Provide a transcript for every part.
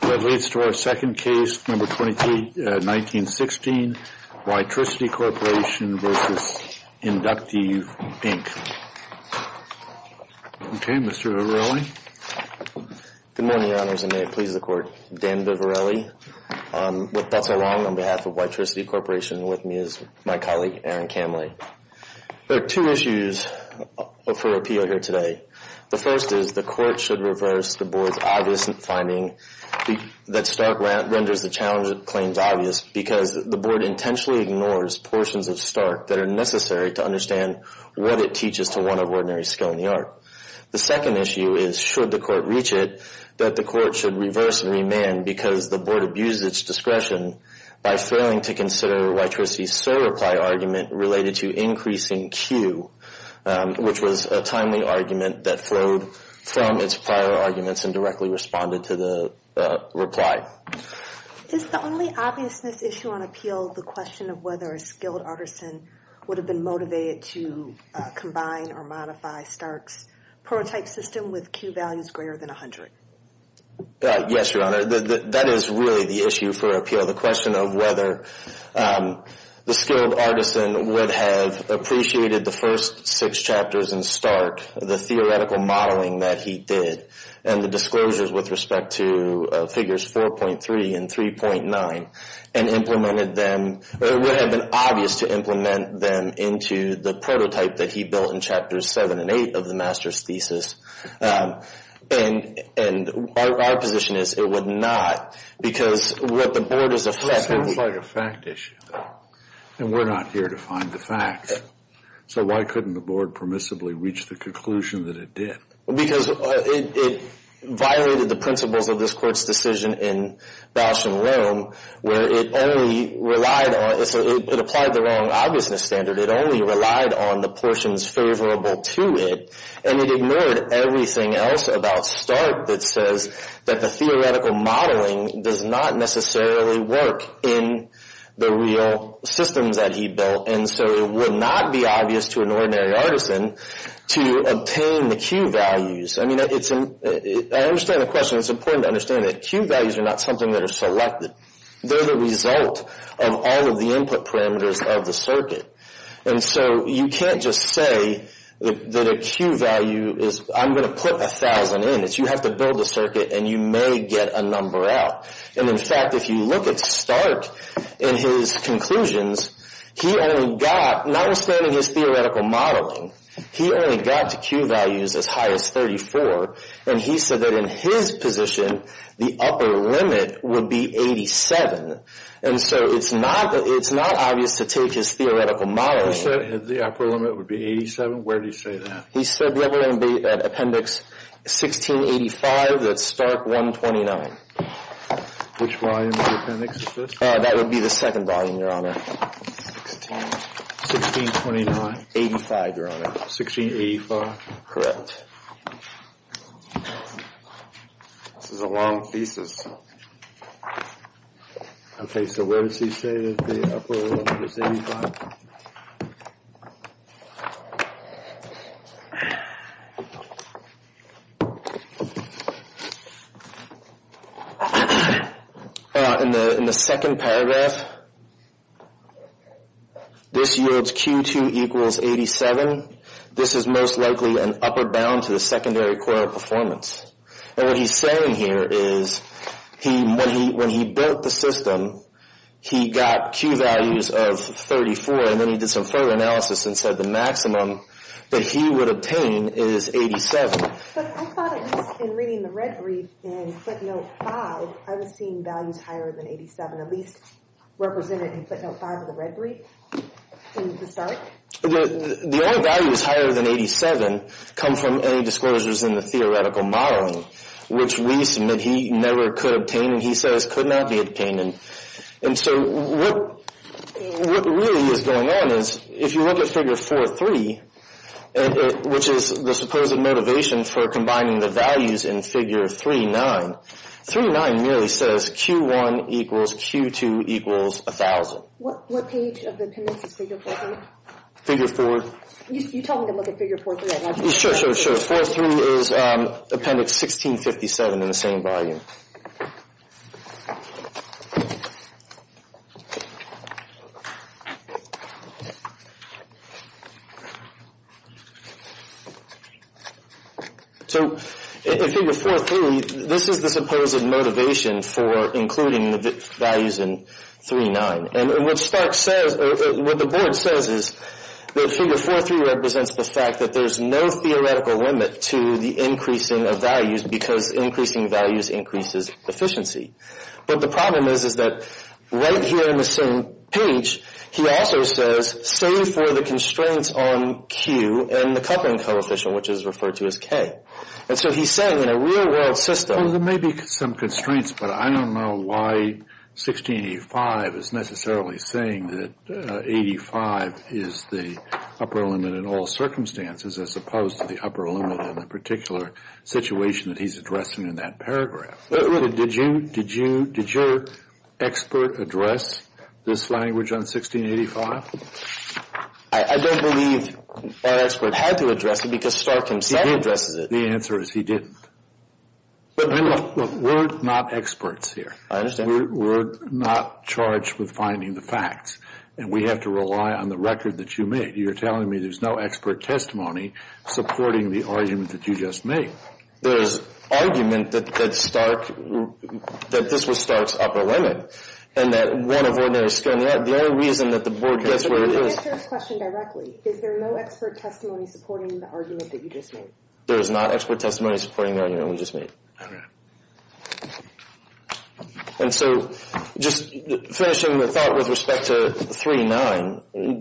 That leads to our second case, No. 23, 1916, WITRICITY Corporation v. InductEV Inc. Okay, Mr. Vivarelli. Good morning, Your Honors, and may it please the Court. Dan Vivarelli, with Bethel Long on behalf of WITRICITY Corporation, and with me is my colleague, Aaron Camley. There are two issues for appeal here today. The first is the Court should reverse the Board's obvious finding that Stark renders the challenge claims obvious because the Board intentionally ignores portions of Stark that are necessary to understand what it teaches to one of ordinary skill in the art. The second issue is, should the Court reach it, that the Court should reverse and remand because the Board abuses its discretion by failing to consider WITRICITY's SOAR reply argument related to increasing Q, which was a timely argument that flowed from its prior arguments and directly responded to the reply. Is the only obviousness issue on appeal the question of whether a skilled artisan would have been motivated to combine or modify Stark's prototype system with Q values greater than 100? Yes, Your Honor, that is really the issue for appeal. The question of whether the skilled artisan would have appreciated the first six chapters in Stark, the theoretical modeling that he did, and the disclosures with respect to figures 4.3 and 3.9, and implemented them, or it would have been obvious to implement them into the prototype that he built in chapters 7 and 8 of the master's thesis. And our position is it would not because what the Board is affected with... It sounds like a fact issue, and we're not here to find the facts. So why couldn't the Board permissibly reach the conclusion that it did? Because it violated the principles of this Court's decision in Bausch and Rome where it only relied on, it applied the wrong obviousness standard, it only relied on the portions favorable to it, and it ignored everything else about Stark that says that the theoretical modeling does not necessarily work in the real systems that he built. And so it would not be obvious to an ordinary artisan to obtain the Q values. I mean, I understand the question. It's important to understand that Q values are not something that are selected. They're the result of all of the input parameters of the circuit. And so you can't just say that a Q value is, I'm going to put 1,000 in. You have to build a circuit, and you may get a number out. And in fact, if you look at Stark in his conclusions, he only got, notwithstanding his theoretical modeling, he only got to Q values as high as 34. And he said that in his position, the upper limit would be 87. And so it's not obvious to take his theoretical modeling. He said the upper limit would be 87? Where did he say that? He said we're going to be at Appendix 1685, that's Stark 129. Which volume of the appendix is this? That would be the second volume, Your Honor. 1629. 1685, Your Honor. 1685? Correct. This is a long thesis. Okay, so where does he say that the upper limit is 85? Your Honor, in the second paragraph, this yields Q2 equals 87. This is most likely an upper bound to the secondary coil performance. And what he's saying here is when he built the system, he got Q values of 34, and then he did some further analysis and said the maximum that he would obtain is 87. But I thought at least in reading the red brief in footnote 5, I was seeing values higher than 87, at least represented in footnote 5 of the red brief in the Stark. The only values higher than 87 come from any disclosures in the theoretical modeling, which we submit he never could obtain and he says could not be obtained. And so what really is going on is if you look at Figure 4.3, which is the supposed motivation for combining the values in Figure 3.9, 3.9 merely says Q1 equals Q2 equals 1,000. What page of the appendix is Figure 4.3? Figure 4. You tell me to look at Figure 4.3. Sure, sure, sure. 4.3 is appendix 1657 in the same volume. So in Figure 4.3, this is the supposed motivation for including the values in 3.9. And what the board says is that Figure 4.3 represents the fact that there's no theoretical limit to the increasing of values because increasing values increases efficiency. But the problem is that right here in the same page, he also says save for the constraints on Q and the coupling coefficient, which is referred to as K. And so he's saying in a real world system Well, there may be some constraints, but I don't know why 1685 is necessarily saying that 85 is the upper limit in all circumstances as opposed to the upper limit in a particular situation that he's addressing in that paragraph. Did your expert address this language on 1685? I don't believe our expert had to address it because Stark himself addresses it. The answer is he didn't. Look, we're not experts here. I understand. We're not charged with finding the facts, and we have to rely on the record that you made. You're telling me there's no expert testimony supporting the argument that you just made. There's argument that this was Stark's upper limit and that one of ordinary standards. The only reason that the board gets where it is Answer his question directly. Is there no expert testimony supporting the argument that you just made? There is not expert testimony supporting the argument we just made. All right. And so just finishing the thought with respect to 3.9,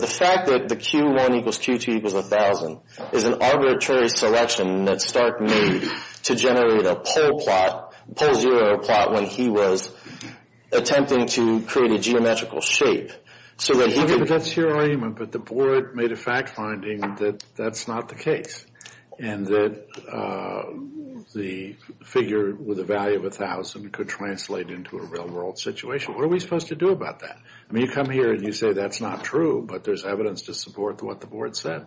the fact that the Q1 equals Q2 equals 1,000 is an arbitrary selection that Stark made to generate a pole plot, pole zero plot, when he was attempting to create a geometrical shape. That's your argument, but the board made a fact finding that that's not the case and that the figure with a value of 1,000 could translate into a real-world situation. What are we supposed to do about that? I mean, you come here and you say that's not true, but there's evidence to support what the board said.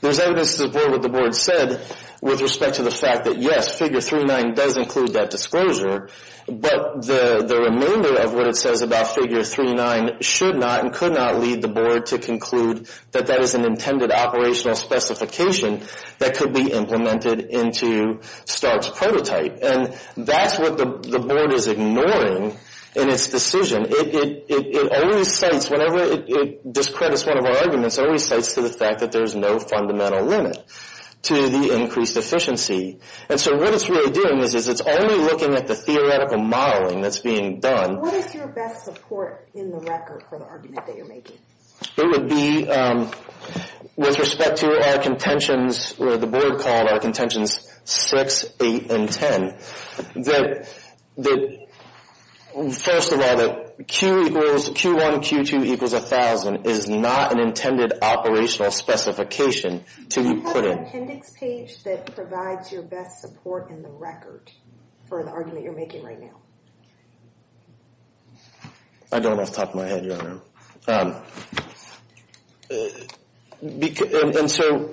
There's evidence to support what the board said with respect to the fact that, yes, figure 3.9 does include that disclosure, but the remainder of what it says about figure 3.9 should not and could not lead the board to conclude that that is an intended operational specification that could be implemented into Stark's prototype. And that's what the board is ignoring in its decision. It always cites, whenever it discredits one of our arguments, it always cites to the fact that there's no fundamental limit to the increased efficiency. And so what it's really doing is it's only looking at the theoretical modeling that's being done. What is your best support in the record for the argument that you're making? It would be with respect to our contentions, or the board called our contentions 6, 8, and 10, that first of all, that Q1, Q2 equals 1,000 is not an intended operational specification to be put in. Do you have an appendix page that provides your best support in the record for the argument you're making right now? I don't off the top of my head, Your Honor. And so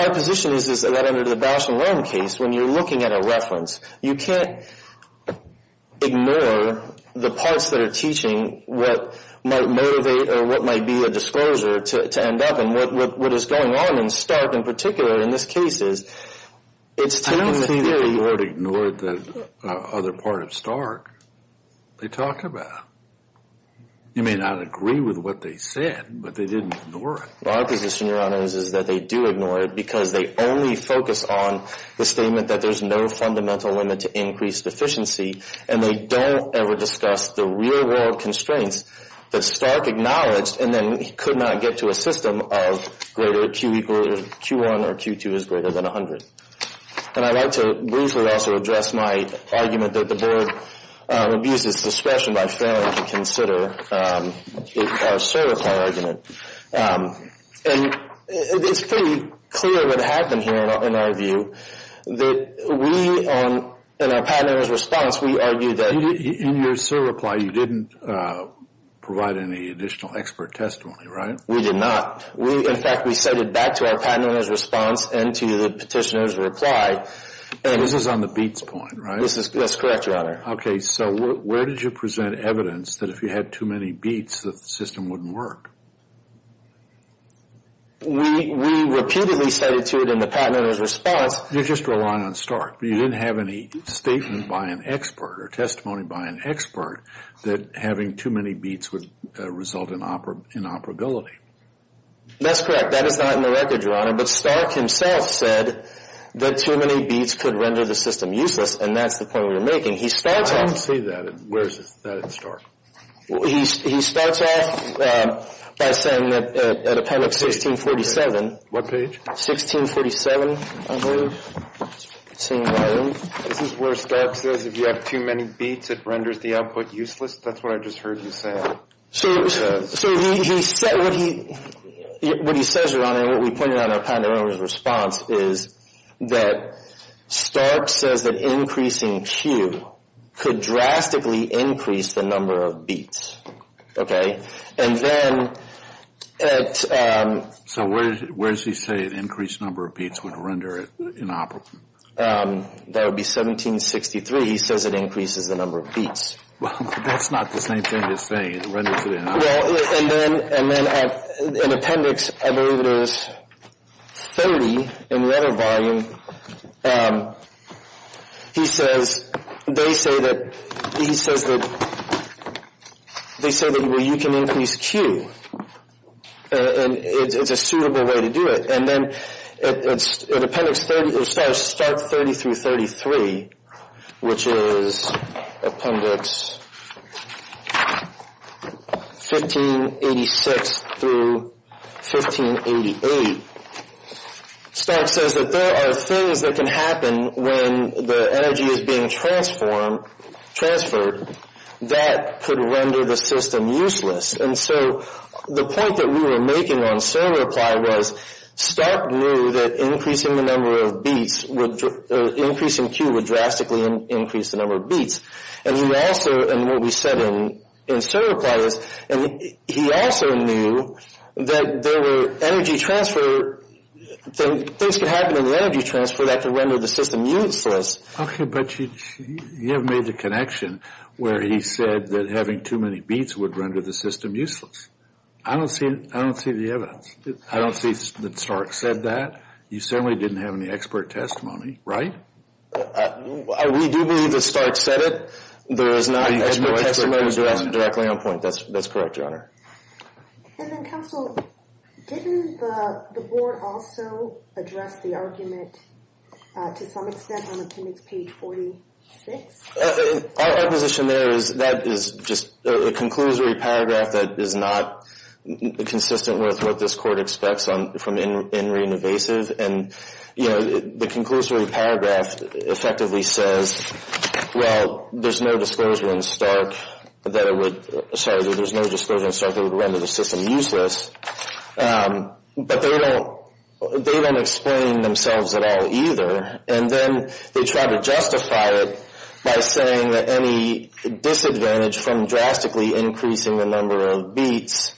our position is that under the Bausch and Lomb case, when you're looking at a reference, you can't ignore the parts that are teaching what might motivate or what might be a disclosure to end up. And what is going on in Stark in particular in this case is it's taking the theory. I don't see that the board ignored the other part of Stark they talk about. You may not agree with what they said, but they didn't ignore it. Well, our position, Your Honor, is that they do ignore it because they only focus on the statement that there's no fundamental limit to increased efficiency, and they don't ever discuss the real-world constraints that Stark acknowledged and then could not get to a system of greater Q1 or Q2 is greater than 100. And I'd like to briefly also address my argument that the board abuses discretion by failing to consider our certify argument. And it's pretty clear what happened here, in our view, that we, in our patent owner's response, we argued that. In your certify, you didn't provide any additional expert testimony, right? We did not. In fact, we sent it back to our patent owner's response and to the petitioner's reply. And this is on the BEATS point, right? That's correct, Your Honor. Okay. So where did you present evidence that if you had too many BEATS, the system wouldn't work? We repeatedly said it to it in the patent owner's response. You're just relying on Stark. You didn't have any statement by an expert or testimony by an expert that having too many BEATS would result in operability. That's correct. That is not in the record, Your Honor. But Stark himself said that too many BEATS could render the system useless, and that's the point we were making. I don't see that. Where is that at Stark? He starts off by saying that at appendix 1647. What page? 1647, I believe. Let's see. This is where Stark says if you have too many BEATS, it renders the output useless. That's what I just heard you say. So what he says, Your Honor, and what we pointed out in our patent owner's response, is that Stark says that increasing Q could drastically increase the number of BEATS. Okay? And then at... So where does he say an increased number of BEATS would render it inoperable? That would be 1763. He says it increases the number of BEATS. Well, that's not the same thing he's saying. It renders it inoperable. Well, and then at appendix, I believe it was 30 in letter volume, he says they say that you can increase Q. And it's a suitable way to do it. And then at appendix 30, it starts Stark 30 through 33, which is appendix 1586 through 1588. Stark says that there are things that can happen when the energy is being transferred that could render the system useless. And so the point that we were making on server-apply was Stark knew that increasing the number of BEATS, increasing Q would drastically increase the number of BEATS. And he also, and what we said in server-apply is, he also knew that there were energy transfer, things could happen in the energy transfer that could render the system useless. Okay, but you have made the connection where he said that having too many BEATS would render the system useless. I don't see, I don't see the evidence. I don't see that Stark said that. You certainly didn't have any expert testimony, right? We do believe that Stark said it. There is no expert testimony directly on point. That's correct, Your Honor. And then counsel, didn't the board also address the argument to some extent on appendix page 46? Our position there is that is just a conclusory paragraph that is not consistent with what this court expects from in re-invasive. And, you know, the conclusory paragraph effectively says, well, there's no disclosure in Stark that it would, sorry, there's no disclosure in Stark that it would render the system useless. But they don't explain themselves at all either. And then they try to justify it by saying that any disadvantage from drastically increasing the number of BEATS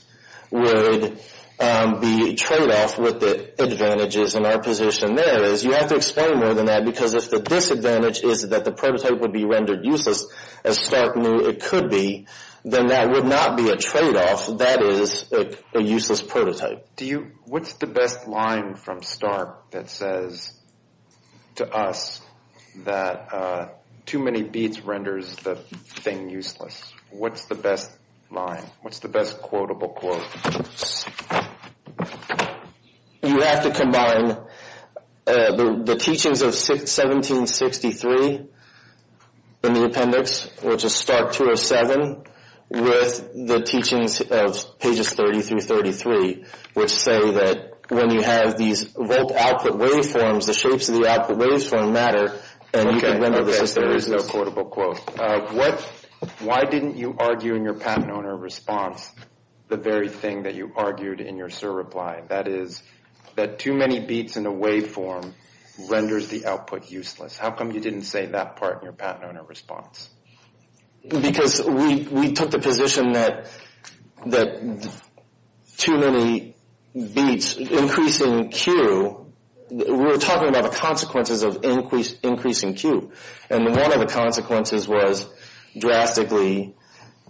would be a tradeoff with the advantages. And our position there is you have to explain more than that because if the disadvantage is that the prototype would be rendered useless, as Stark knew it could be, then that would not be a tradeoff. That is a useless prototype. What's the best line from Stark that says to us that too many BEATS renders the thing useless? What's the best line? What's the best quotable quote? You have to combine the teachings of 1763 in the appendix, which is Stark 207, with the teachings of pages 30 through 33, which say that when you have these volt output waveforms, the shapes of the output waveforms matter and you can render the system useless. There is no quotable quote. Why didn't you argue in your patent owner response the very thing that you argued in your surreply? That is that too many BEATS in a waveform renders the output useless. How come you didn't say that part in your patent owner response? Because we took the position that too many BEATS increasing Q, we were talking about the consequences of increasing Q. And one of the consequences was drastically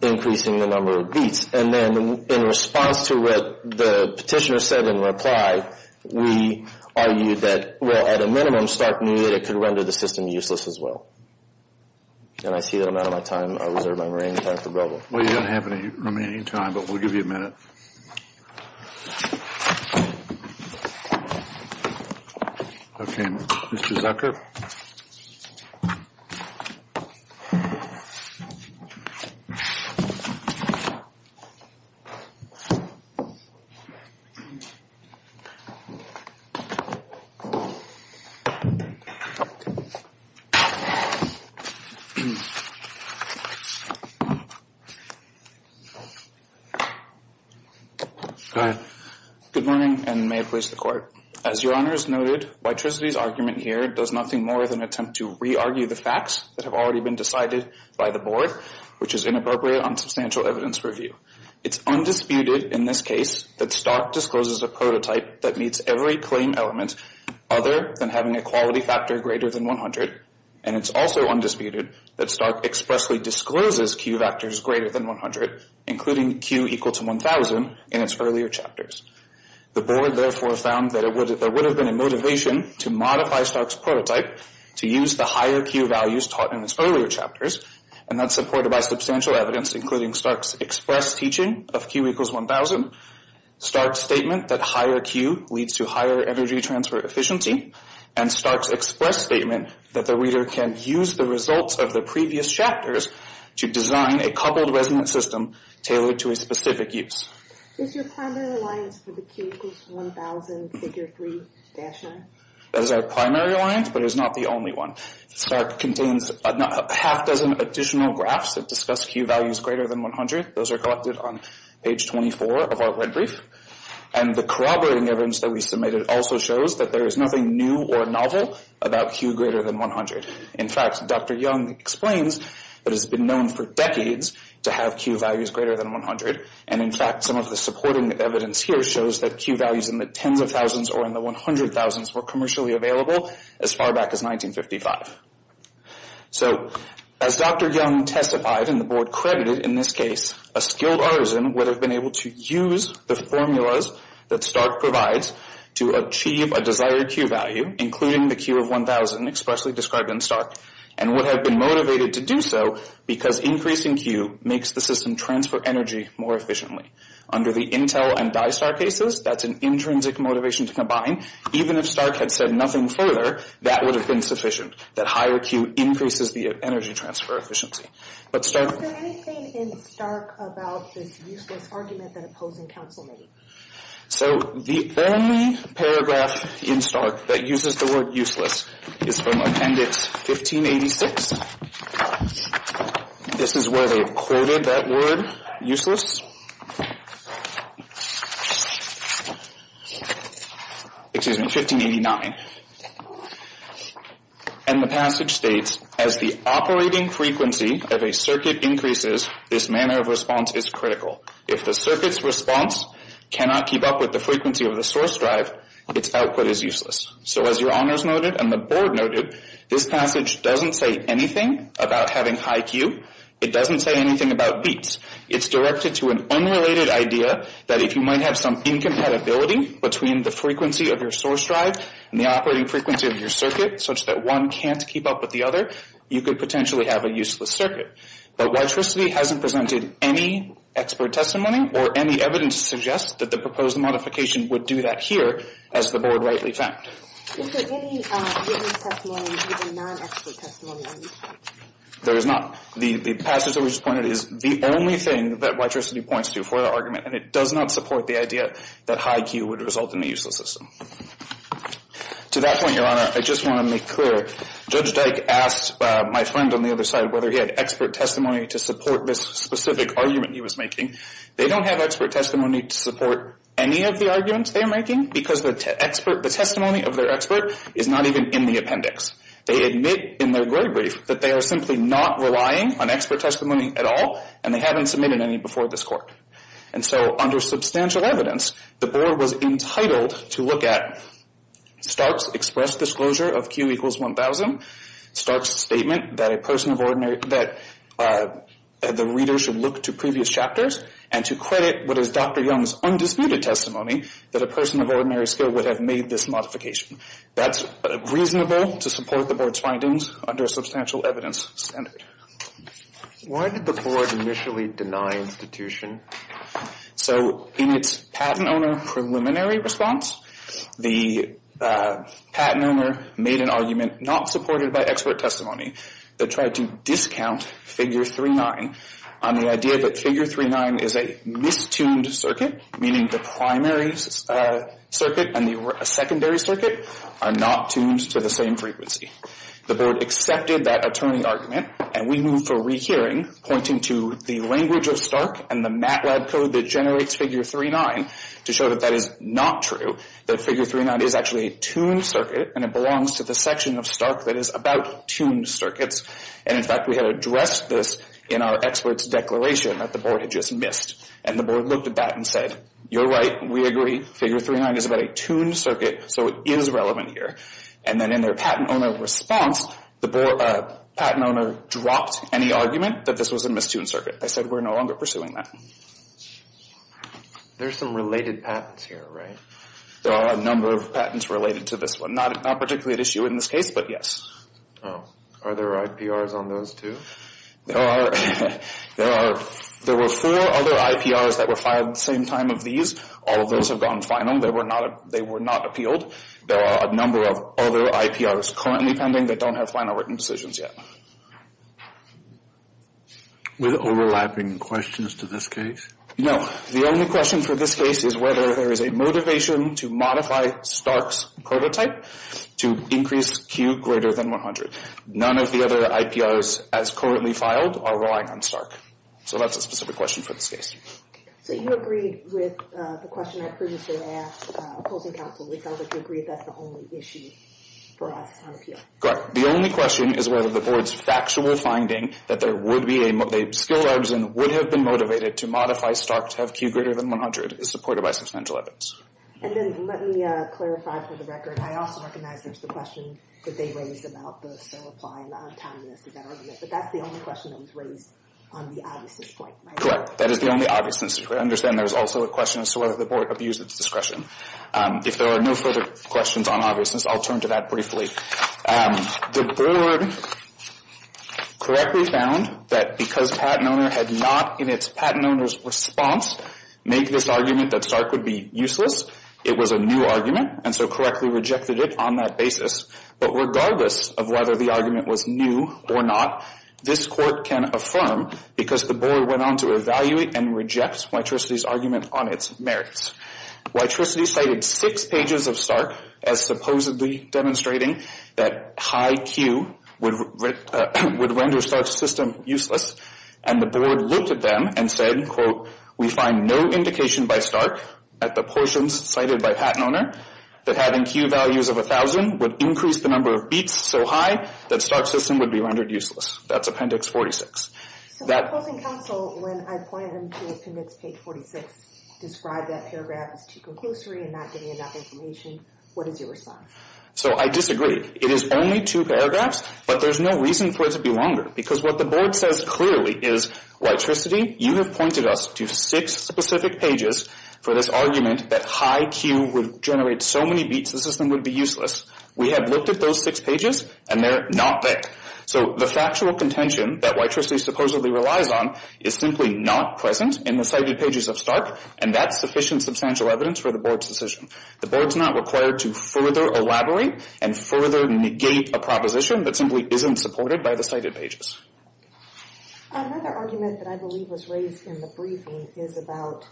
increasing the number of BEATS. And then in response to what the petitioner said in reply, we argued that, well, at a minimum, Stark knew that it could render the system useless as well. And I see that I'm out of my time. I reserve my remaining time for Bill. Well, you don't have any remaining time, but we'll give you a minute. Okay, Mr. Zucker. Okay. Go ahead. Good morning and may it please the court. As your honor has noted, Whytricity's argument here does nothing more than attempt to re-argue the facts that have already been decided by the board, which is inappropriate on substantial evidence review. It's undisputed in this case that Stark discloses a prototype that meets every claim element other than having a quality factor greater than 100. And it's also undisputed that Stark expressly discloses Q factors greater than 100, including Q equal to 1,000 in its earlier chapters. The board therefore found that there would have been a motivation to modify Stark's prototype to use the higher Q values taught in its earlier chapters, and that's supported by substantial evidence, including Stark's express teaching of Q equals 1,000, Stark's statement that higher Q leads to higher energy transfer efficiency, and Stark's express statement that the reader can use the results of the previous chapters to design a coupled resonant system tailored to a specific use. Is your primary alliance for the Q equals 1,000 figure 3 dash 9? That is our primary alliance, but it is not the only one. Stark contains a half dozen additional graphs that discuss Q values greater than 100. Those are collected on page 24 of our red brief. And the corroborating evidence that we submitted also shows that there is nothing new or novel about Q greater than 100. In fact, Dr. Young explains that it has been known for decades to have Q values greater than 100, and in fact some of the supporting evidence here shows that Q values in the tens of thousands or in the 100 thousands were commercially available as far back as 1955. So as Dr. Young testified and the board credited in this case, a skilled artisan would have been able to use the formulas that Stark provides to achieve a desired Q value, including the Q of 1,000 expressly described in Stark, and would have been motivated to do so because increasing Q makes the system transfer energy more efficiently. Under the Intel and DISTAR cases, that's an intrinsic motivation to combine. Even if Stark had said nothing further, that would have been sufficient, that higher Q increases the energy transfer efficiency. But Stark... Is there anything in Stark about this useless argument that opposing counsel made? So the only paragraph in Stark that uses the word useless is from Appendix 1586. This is where they've quoted that word, useless. Excuse me, 1589. And the passage states, As the operating frequency of a circuit increases, this manner of response is critical. If the circuit's response cannot keep up with the frequency of the source drive, its output is useless. So as your honors noted and the board noted, this passage doesn't say anything about having high Q. It doesn't say anything about beats. It's directed to an unrelated idea that if you might have some incompatibility between the frequency of your source drive and the operating frequency of your circuit such that one can't keep up with the other, you could potentially have a useless circuit. But Y-Tricity hasn't presented any expert testimony or any evidence to suggest that the proposed modification would do that here, as the board rightly found. Is there any written testimony or non-expert testimony? There is not. The passage that we just pointed is the only thing that Y-Tricity points to for the argument, and it does not support the idea that high Q would result in a useless system. To that point, your honor, I just want to make clear. Judge Dyke asked my friend on the other side whether he had expert testimony to support this specific argument he was making. They don't have expert testimony to support any of the arguments they're making because the testimony of their expert is not even in the appendix. They admit in their word brief that they are simply not relying on expert testimony at all, and they haven't submitted any before this court. And so under substantial evidence, the board was entitled to look at Stark's expressed disclosure of Q equals 1,000, Stark's statement that the reader should look to previous chapters, and to credit what is Dr. Young's undisputed testimony that a person of ordinary skill would have made this modification. That's reasonable to support the board's findings under a substantial evidence standard. Why did the board initially deny institution? So in its patent owner preliminary response, the patent owner made an argument not supported by expert testimony. They tried to discount figure 3-9 on the idea that figure 3-9 is a mistuned circuit, meaning the primary circuit and the secondary circuit are not tuned to the same frequency. The board accepted that attorney argument, and we moved for rehearing, pointing to the language of Stark and the MATLAB code that generates figure 3-9 to show that that is not true, that figure 3-9 is actually a tuned circuit, and it belongs to the section of Stark that is about tuned circuits. And, in fact, we had addressed this in our expert's declaration that the board had just missed. And the board looked at that and said, you're right, we agree, figure 3-9 is about a tuned circuit, so it is relevant here. And then in their patent owner response, the patent owner dropped any argument that this was a mistuned circuit. They said we're no longer pursuing that. There's some related patents here, right? There are a number of patents related to this one. Not particularly at issue in this case, but yes. Are there IPRs on those too? There are. There were four other IPRs that were fired at the same time of these. All of those have gone final. They were not appealed. There are a number of other IPRs currently pending that don't have final written decisions yet. With overlapping questions to this case? No. The only question for this case is whether there is a motivation to modify Stark's prototype to increase Q greater than 100. None of the other IPRs as currently filed are relying on Stark. So that's a specific question for this case. So you agreed with the question I previously asked opposing counsel, which sounds like you agree that's the only issue for us on appeal. Correct. The only question is whether the board's factual finding that there would be a skill that would have been motivated to modify Stark to have Q greater than 100 is supported by substantial evidence. And then let me clarify for the record, I also recognize there's the question that they raised about the sell-apply and the untimeliness of that argument. But that's the only question that was raised on the obviousness point, right? Correct. That is the only obviousness. I understand there's also a question as to whether the board abused its discretion. If there are no further questions on obviousness, I'll turn to that briefly. The board correctly found that because PatentOwner had not in its PatentOwner's response made this argument that Stark would be useless, it was a new argument, and so correctly rejected it on that basis. But regardless of whether the argument was new or not, this Court can affirm because the board went on to evaluate and reject Whytricity's argument on its merits. Whytricity cited six pages of Stark as supposedly demonstrating that high Q would render Stark's system useless. And the board looked at them and said, quote, We find no indication by Stark at the portions cited by PatentOwner that having Q values of 1,000 would increase the number of beats so high that Stark's system would be rendered useless. That's Appendix 46. So in closing counsel, when I point them to Appendix 46, describe that paragraph as too conclusory and not giving enough information, what is your response? So I disagree. It is only two paragraphs, but there's no reason for it to be longer because what the board says clearly is, Whytricity, you have pointed us to six specific pages for this argument that high Q would generate so many beats the system would be useless. We have looked at those six pages, and they're not there. So the factual contention that Whytricity supposedly relies on is simply not present in the cited pages of Stark, and that's sufficient substantial evidence for the board's decision. The board's not required to further elaborate and further negate a proposition that simply isn't supported by the cited pages. Another argument that I believe was raised in the briefing is about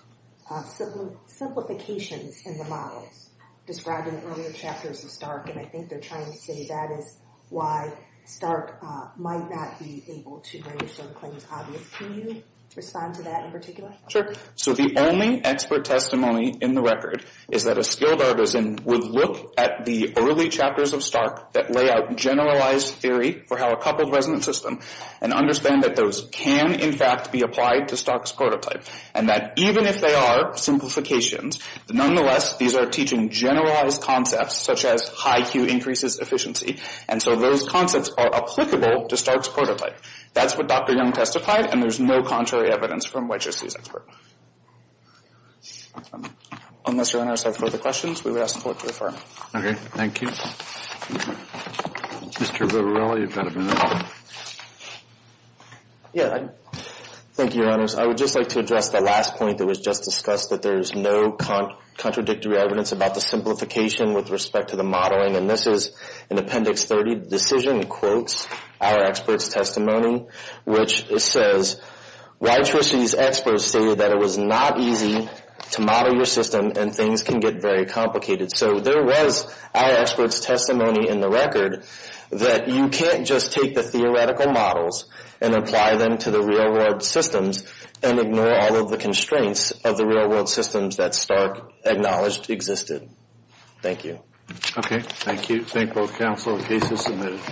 simplifications in the models describing earlier chapters of Stark, and I think they're trying to say that is why Stark might not be able to make certain claims obvious. Can you respond to that in particular? Sure. So the only expert testimony in the record is that a skilled artisan would look at the early chapters of Stark that lay out generalized theory for how a coupled resonant system, and understand that those can, in fact, be applied to Stark's prototype, and that even if they are simplifications, nonetheless, these are teaching generalized concepts such as high Q increases efficiency, and so those concepts are applicable to Stark's prototype. That's what Dr. Young testified, and there's no contrary evidence from Whytricity's expert. Unless your honors have further questions, we would ask the court to affirm. Okay, thank you. Mr. Vivarelli, you've got a minute. Yeah, thank you, your honors. I would just like to address the last point that was just discussed, that there's no contradictory evidence about the simplification with respect to the modeling, and this is in Appendix 30, Decision Quotes, Our Experts' Testimony, which says Whytricity's experts say that it was not easy to model your system and things can get very complicated. So there was Our Experts' Testimony in the record that you can't just take the theoretical models and apply them to the real world systems and ignore all of the constraints of the real world systems that Stark acknowledged existed. Thank you. Okay, thank you. Thank both counsel. The case is submitted.